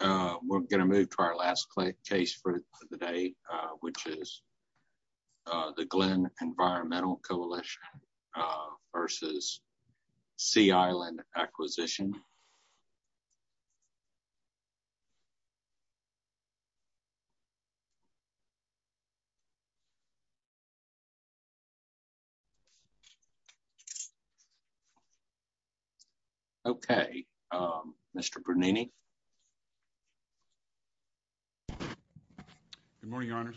We're going to move to our last case for the day, which is the Glynn Environmental Coalition v. Sea Island Acquisition. Okay, Mr. Bernini. Good morning, Your Honors.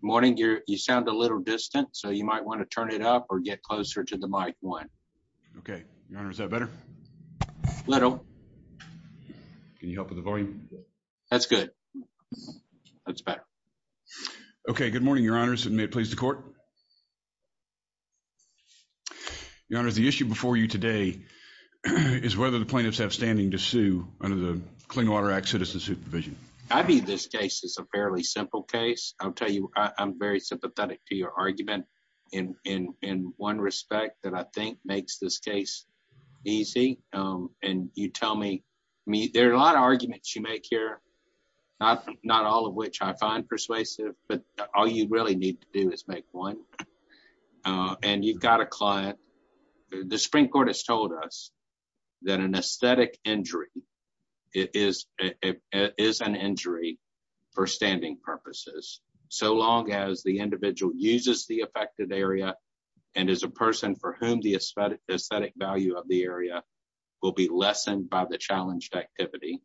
Morning. You sound a little distant, so you might want to turn it up or get closer to the mic one. Okay. Your Honor, is that better? A little. Can you help with the volume? That's good. That's better. Okay, good morning, Your Honor. May it please the Court? Your Honor, the issue before you today is whether the plaintiffs have standing to sue under the Clean Water Act Citizen Supervision. I view this case as a fairly simple case. I'll tell you, I'm very sympathetic to your argument in one respect that I think makes this case easy. There are a lot of arguments you make here, not all of which I find persuasive, but all you really need to do is make one. And you've got a client. The Supreme Court has told us that an aesthetic injury is an injury for standing purposes, so long as the individual uses the affected area and is a person for whom the aesthetic value of the area will be lessened by the challenged activity.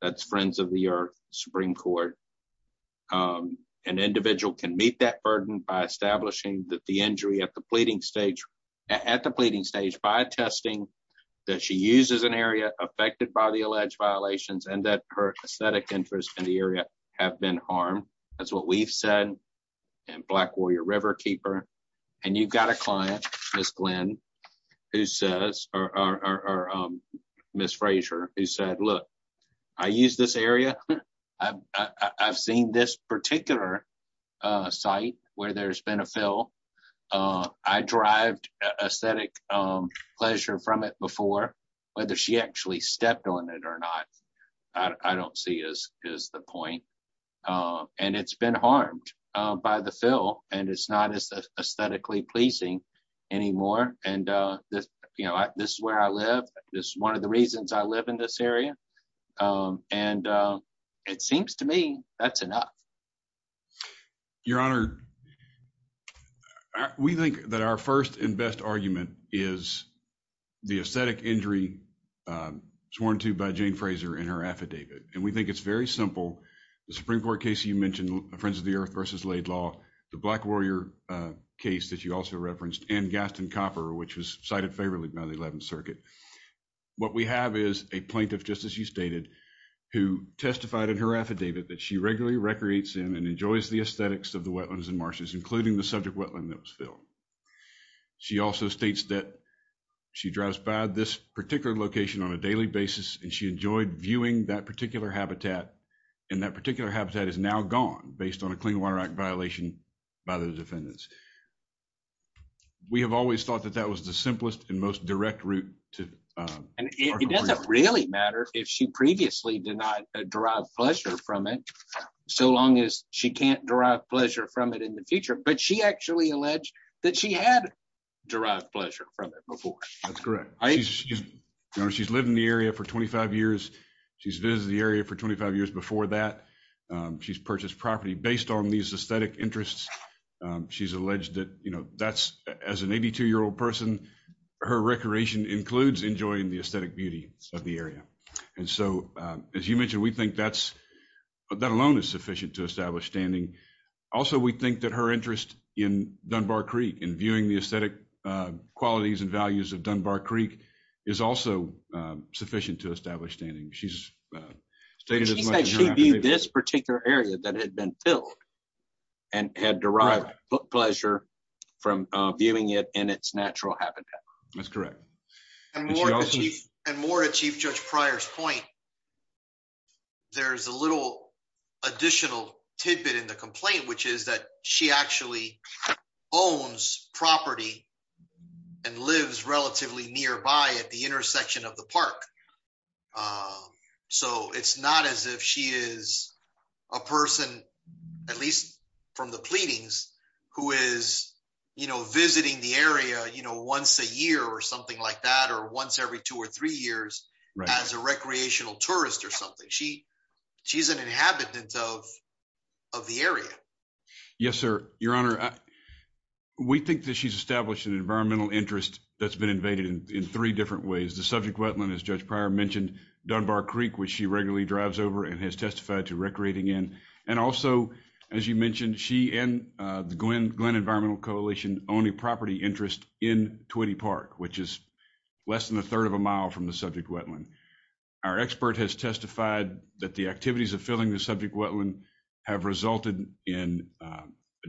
That's Friends of the Earth, Supreme Court. An individual can meet that burden by establishing that the injury at the pleading stage by attesting that she uses an area affected by the alleged violations and that her aesthetic interest in the area have been harmed. That's what we've said in Black Warrior Riverkeeper. And you've got a client, Ms. Fraser, who said, look, I use this area. I've seen this particular site where there's been a fill. I derived aesthetic pleasure from it before, whether she actually stepped on it or not, I don't see is the point. And it's been harmed by the fill, and it's not as aesthetically pleasing anymore. And this is where I live. It's one of the reasons I live in this area. And it seems to me that's enough. Your Honor, we think that our first and best argument is the aesthetic injury sworn to by Jane Fraser in her affidavit. And we think it's very simple. The Supreme Court case you mentioned, Friends of the Earth versus Laidlaw, the Black Warrior case that you also referenced, and Gaston Copper, which was cited favorably by the 11th Circuit. What we have is a plaintiff, just as you stated, who testified in her affidavit that she regularly recreates in and enjoys the aesthetics of the wetlands and marshes, including the subject wetland that was filled. She also states that she drives by this particular location on a daily basis, and she enjoyed viewing that particular habitat. And that particular habitat is now gone based on a Clean Water Act violation by the defendants. We have always thought that that was the simplest and most direct route. And it doesn't really matter if she previously did not derive pleasure from it, so long as she can't derive pleasure from it in the future. But she actually alleged that she had derived pleasure from it before. That's correct. Your Honor, she's lived in the area for 25 years. She's visited the area for 25 years before that. She's purchased property based on these aesthetic interests. She's alleged that, you know, that's, as an 82-year-old person, her recreation includes enjoying the aesthetic beauty of the area. And so, as you mentioned, we think that's, that alone is sufficient to establish standing. Also, we think that her interest in Dunbar Creek and viewing the aesthetic qualities and values of Dunbar Creek is also sufficient to establish standing. She's stated that she viewed this particular area that had been filled and had derived pleasure from viewing it in its natural habitat. That's correct. And more to Chief Judge Pryor's point, there's a little additional tidbit in the complaint, which is that she actually owns property and lives relatively nearby at the intersection of the park. So, it's not as if she is a person, at least from the pleadings, who is, you know, once every two or three years as a recreational tourist or something. She's an inhabitant of the area. Yes, sir. Your Honor, we think that she's established an environmental interest that's been invaded in three different ways. The subject wetland, as Judge Pryor mentioned, Dunbar Creek, which she regularly drives over and has testified to recreating in. And also, as you mentioned, she and the Glenn Environmental Coalition own a property interest in Twitty Park, which is less than a third of a mile from the subject wetland. Our expert has testified that the activities of filling the subject wetland have resulted in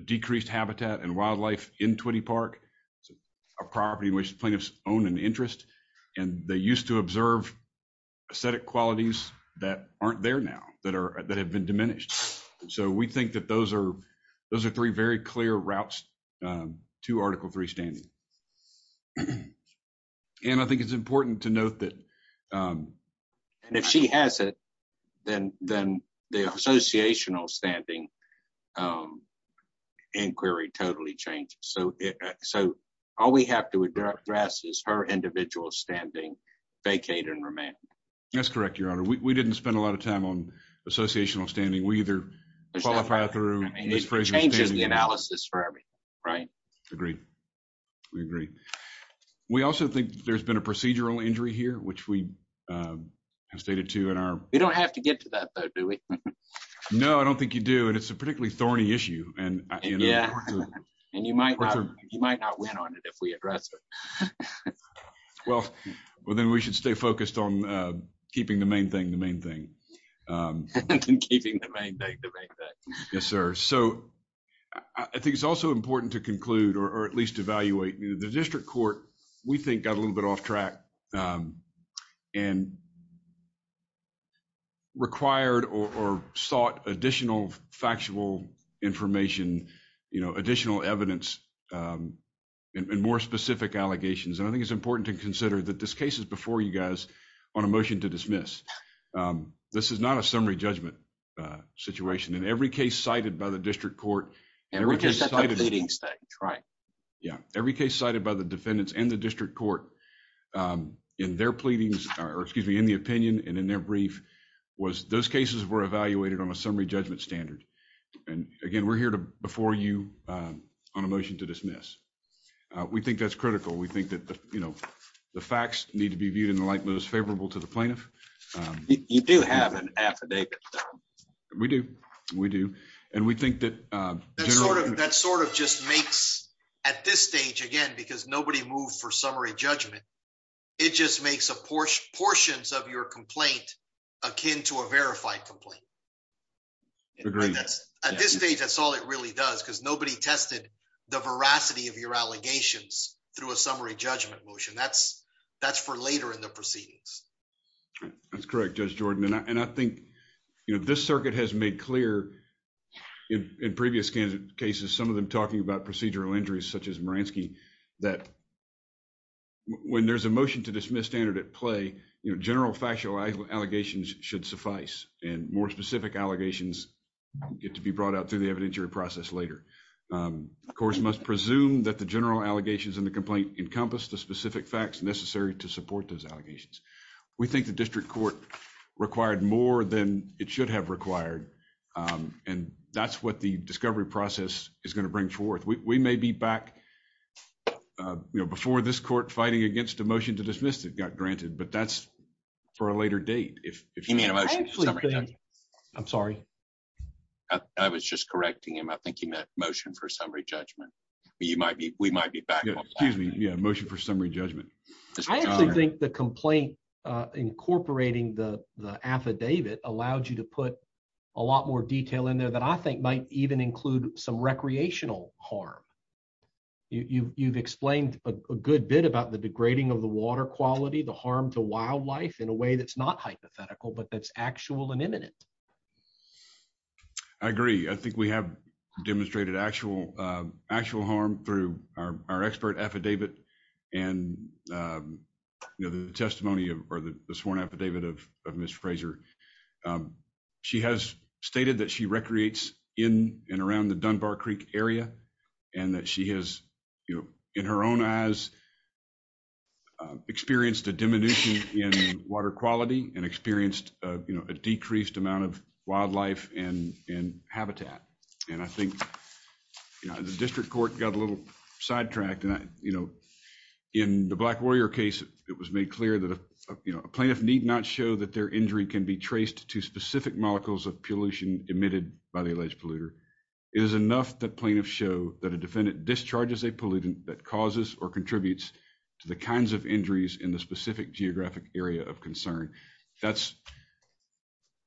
decreased habitat and wildlife in Twitty Park, a property which plaintiffs own an interest. And they used to observe aesthetic qualities that aren't there now, that have been diminished. So, we think that those are three very clear routes to Article 3 standing. And I think it's important to note that... And if she has it, then the associational standing inquiry totally changes. So, all we have to address is her individual standing vacated and remanded. That's correct, Your Honor. We didn't spend a lot of time on associational standing. We either qualify through... And it changes the analysis for everything, right? Agreed. We agree. We also think there's been a procedural injury here, which we have stated to in our... We don't have to get to that though, do we? No, I don't think you do. And it's a particularly thorny issue. And you might not win on it if we address it. Well, then we should stay focused on keeping the main thing Yes, sir. So, I think it's also important to conclude or at least evaluate. The district court, we think, got a little bit off track and required or sought additional factual information, additional evidence, and more specific allegations. And I think it's important to consider that this to dismiss. This is not a summary judgment situation. In every case cited by the district court... And we're just at the pleading stage, right? Yeah. Every case cited by the defendants and the district court in their pleadings or, excuse me, in the opinion and in their brief was those cases were evaluated on a summary judgment standard. And again, we're here before you on a motion to dismiss. We think that's critical. We think that the facts need to be You do have an affidavit. We do. We do. And we think that... That sort of just makes, at this stage, again, because nobody moved for summary judgment, it just makes a portion of your complaint akin to a verified complaint. At this stage, that's all it really does because nobody tested the veracity of your allegations through a summary judgment motion. That's for later in the proceedings. That's correct, Judge Jordan. And I think this circuit has made clear in previous cases, some of them talking about procedural injuries, such as Maransky, that when there's a motion to dismiss standard at play, general factual allegations should suffice and more specific allegations get to be brought out through the evidentiary process later. Courts must presume that the general allegations in the complaint encompass the specific facts necessary to support those allegations. We think the district court required more than it should have required. And that's what the discovery process is going to bring forth. We may be back before this court fighting against a motion to dismiss it got granted, but that's for a later date. I'm sorry. I was just correcting him. I think he meant motion for summary judgment. We might be back. Yeah, motion for summary judgment. I actually think the complaint incorporating the affidavit allowed you to put a lot more detail in there that I think might even include some recreational harm. You've explained a good bit about the degrading of the water quality, the harm to wildlife in a way that's not hypothetical, but that's actual and imminent. I agree. I think we have demonstrated actual harm through our expert affidavit and the testimony or the sworn affidavit of Mr. Fraser. She has stated that she recreates in and around the Dunbar Creek area and that she has, in her own eyes, experienced a diminution in water quality and experienced a decreased amount of wildlife and habitat. And I think the district court got a little sidetracked. In the Black Warrior case, it was made clear that a plaintiff need not show that their injury can be traced to specific molecules of pollution emitted by the alleged polluter. It is enough that plaintiffs show that a defendant discharges a pollutant that causes or contributes to the kinds of injuries in the specific geographic area of concern.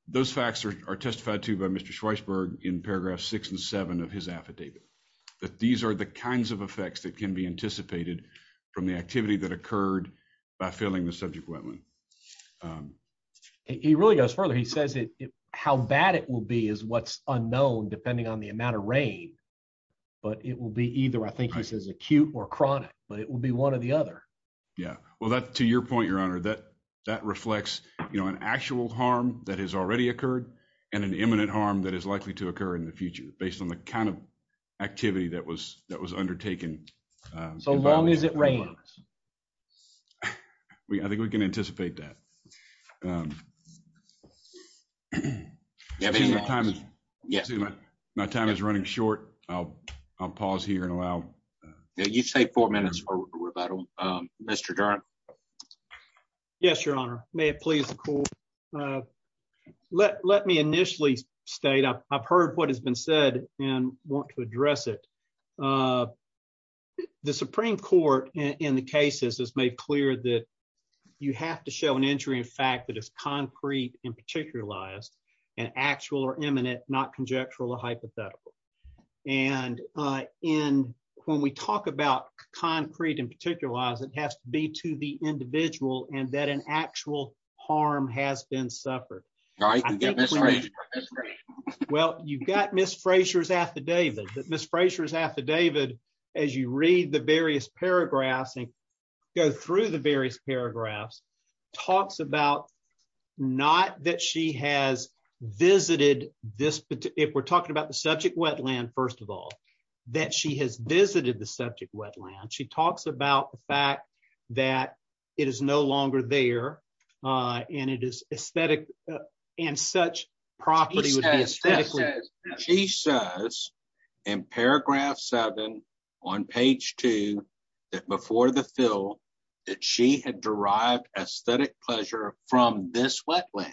Those facts are testified to by Mr. Schweisberg in paragraphs six and seven of his affidavit, that these are the kinds of effects that can be anticipated from the activity that occurred by filling the subject wetland. He really goes further. He says how bad it will be is what's unknown depending on the but it will be either I think he says acute or chronic but it will be one or the other. Yeah well that to your point your honor that that reflects you know an actual harm that has already occurred and an imminent harm that is likely to occur in the future based on the kind of activity that was that was undertaken. So long as it rains. I think we can anticipate that. Um my time is running short. I'll I'll pause here and allow uh yeah you take four minutes for rebuttal um Mr. Darn. Yes your honor may it please the court uh let let me initially state I've heard what has been said and want to address it uh the supreme court in the cases has cleared that you have to show an injury in fact that is concrete and particularized and actual or imminent not conjectural or hypothetical and uh in when we talk about concrete and particularize it has to be to the individual and that an actual harm has been suffered. All right well you've got Ms. Frasier's affidavit that Ms. Frasier's affidavit as you read the various paragraphs and go through the various paragraphs talks about not that she has visited this if we're talking about the subject wetland first of all that she has visited the subject wetland she talks about the fact that it is no longer there uh and it is aesthetic and such property she says in paragraph seven on page two that before the fill that she had derived aesthetic pleasure from this wetland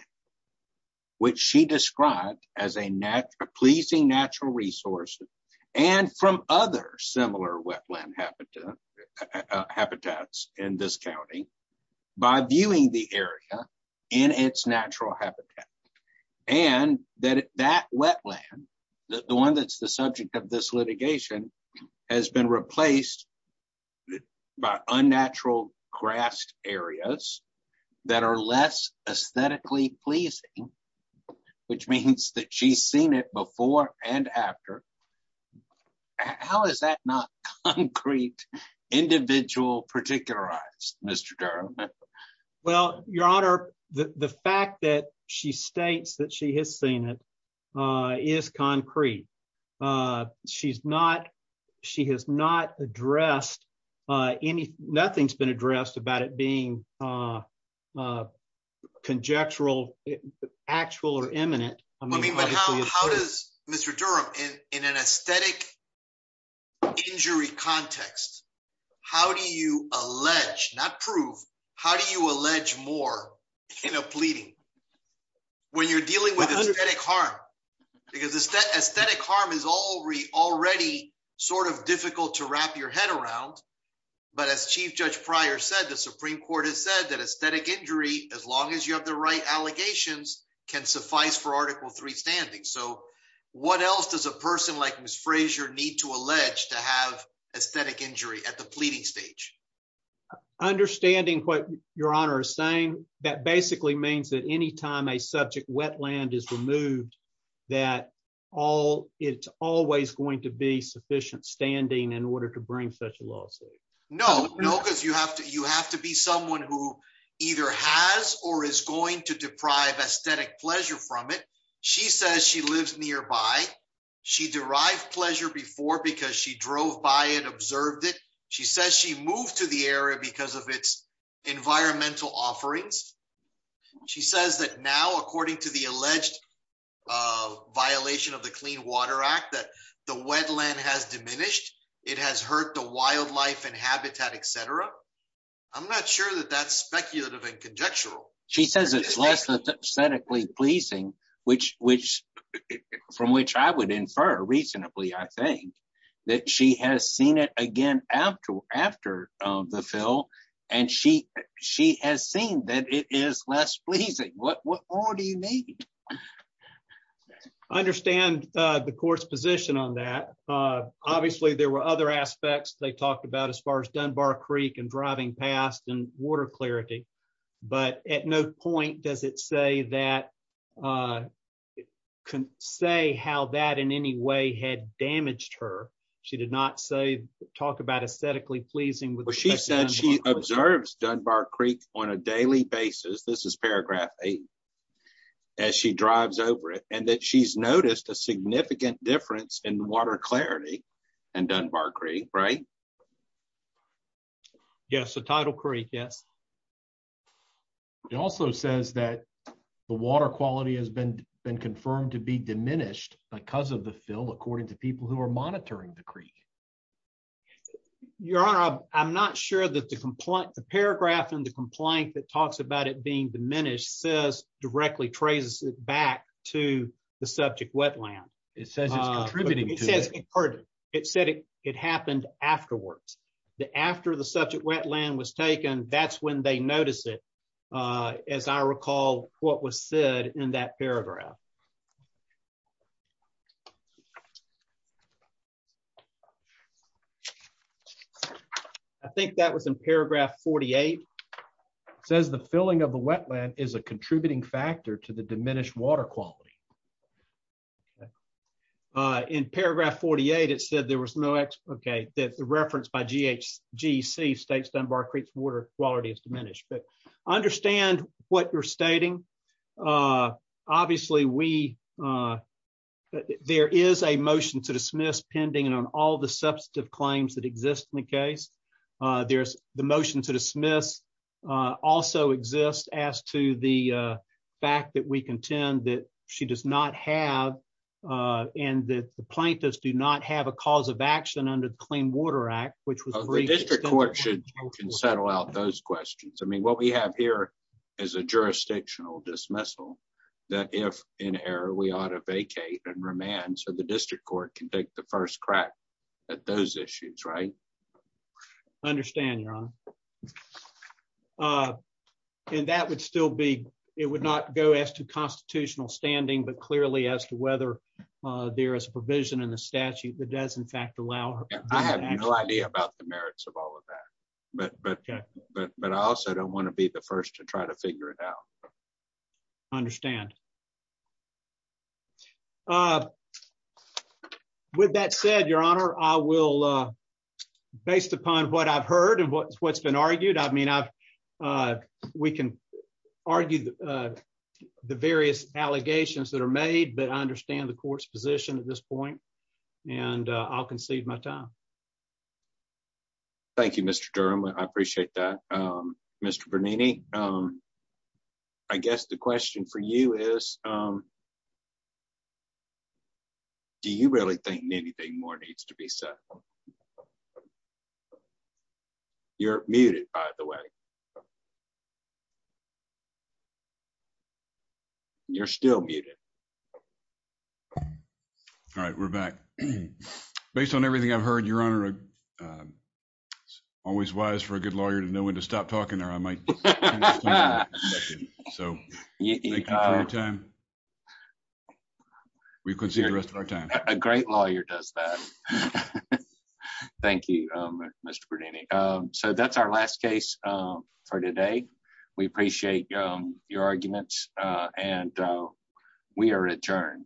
which she described as a natural pleasing natural resources and from other similar wetland habitat habitats in this county by viewing the area in its natural habitat and that that wetland the one that's the subject of this litigation has been replaced by unnatural grassed areas that are less aesthetically pleasing which means that she's seen it before and after how is that not concrete individual particularized Mr. Durham? Well your honor the the fact that she states that she has seen it uh is concrete uh she's not she has not addressed uh any nothing's been addressed about it being uh uh conjectural actual or imminent I mean but how does Mr. Durham in in an aesthetic injury context how do you allege not prove how do you allege more in a pleading when you're dealing with aesthetic harm because aesthetic harm is already already sort of difficult to wrap your head around but as Chief Judge Pryor said the Supreme Court has said that aesthetic injury as long as you have the right allegations can suffice for article three so what else does a person like Ms. Frazier need to allege to have aesthetic injury at the pleading stage? Understanding what your honor is saying that basically means that anytime a subject wetland is removed that all it's always going to be sufficient standing in order to bring such a lawsuit. No no because you have to you have to be someone who either has or is going to deprive aesthetic pleasure from it she says she lives nearby she derived pleasure before because she drove by it observed it she says she moved to the area because of its environmental offerings she says that now according to the alleged uh violation of the Clean Water Act that the wetland has diminished it has hurt the wildlife and habitat etc I'm not sure that that's speculative and conjectural. She says it's less aesthetically pleasing which which from which I would infer reasonably I think that she has seen it again after after the fill and she she has seen that it is less pleasing what what more do you need? I understand uh the court's position on that uh obviously there were other aspects they talked about as far as Dunbar Creek and driving past and water clarity but at no point does it say that uh say how that in any way had damaged her she did not say talk about aesthetically pleasing. She said she observes Dunbar Creek on a daily basis this is paragraph eight as she drives over it and that she's noticed a significant difference in water clarity and Dunbar Creek right? Yes the title creek yes it also says that the water quality has been been confirmed to be diminished because of the fill according to people who are monitoring the creek your honor I'm not sure that the complaint the paragraph in the complaint that talks about it being diminished says directly traces it back to the subject wetland it says it's contributing it said it happened afterwards the after the subject wetland was taken that's when they notice it uh as I recall what was said in that paragraph I think that was in paragraph 48 says the filling of the wetland is a contributing factor to the okay that the reference by GHG states Dunbar Creek's water quality is diminished but I understand what you're stating uh obviously we uh there is a motion to dismiss pending on all the substantive claims that exist in the case uh there's the motion to dismiss uh also exists as to the uh fact that we contend that she does not have uh and that the plaintiffs do not have a cause of action under the clean water act which was the district court should can settle out those questions I mean what we have here is a jurisdictional dismissal that if in error we ought to vacate and remand so the district court can take the first crack at those issues right understand your honor uh and that would still be it would not go as to constitutional standing but clearly as to whether uh there is a provision in the statute that does in fact allow her I have no idea about the merits of all of that but but but but I also don't want to be the first to try figure it out understand uh with that said your honor I will uh based upon what I've heard and what's been argued I mean I've uh we can argue the various allegations that are made but I understand the court's position at this point and I'll concede my time thank you Mr. Durham I appreciate that um Mr. Bernini um I guess the question for you is um do you really think anything more needs to be said you're muted by the way you're still muted um all right we're back based on everything I've heard your honor always wise for a good lawyer to know when to stop talking there I might so thank you for your time we could see the rest of our time a great lawyer does that thank you um Mr. Bernini um so that's our last case um for today we appreciate um your arguments and we are adjourned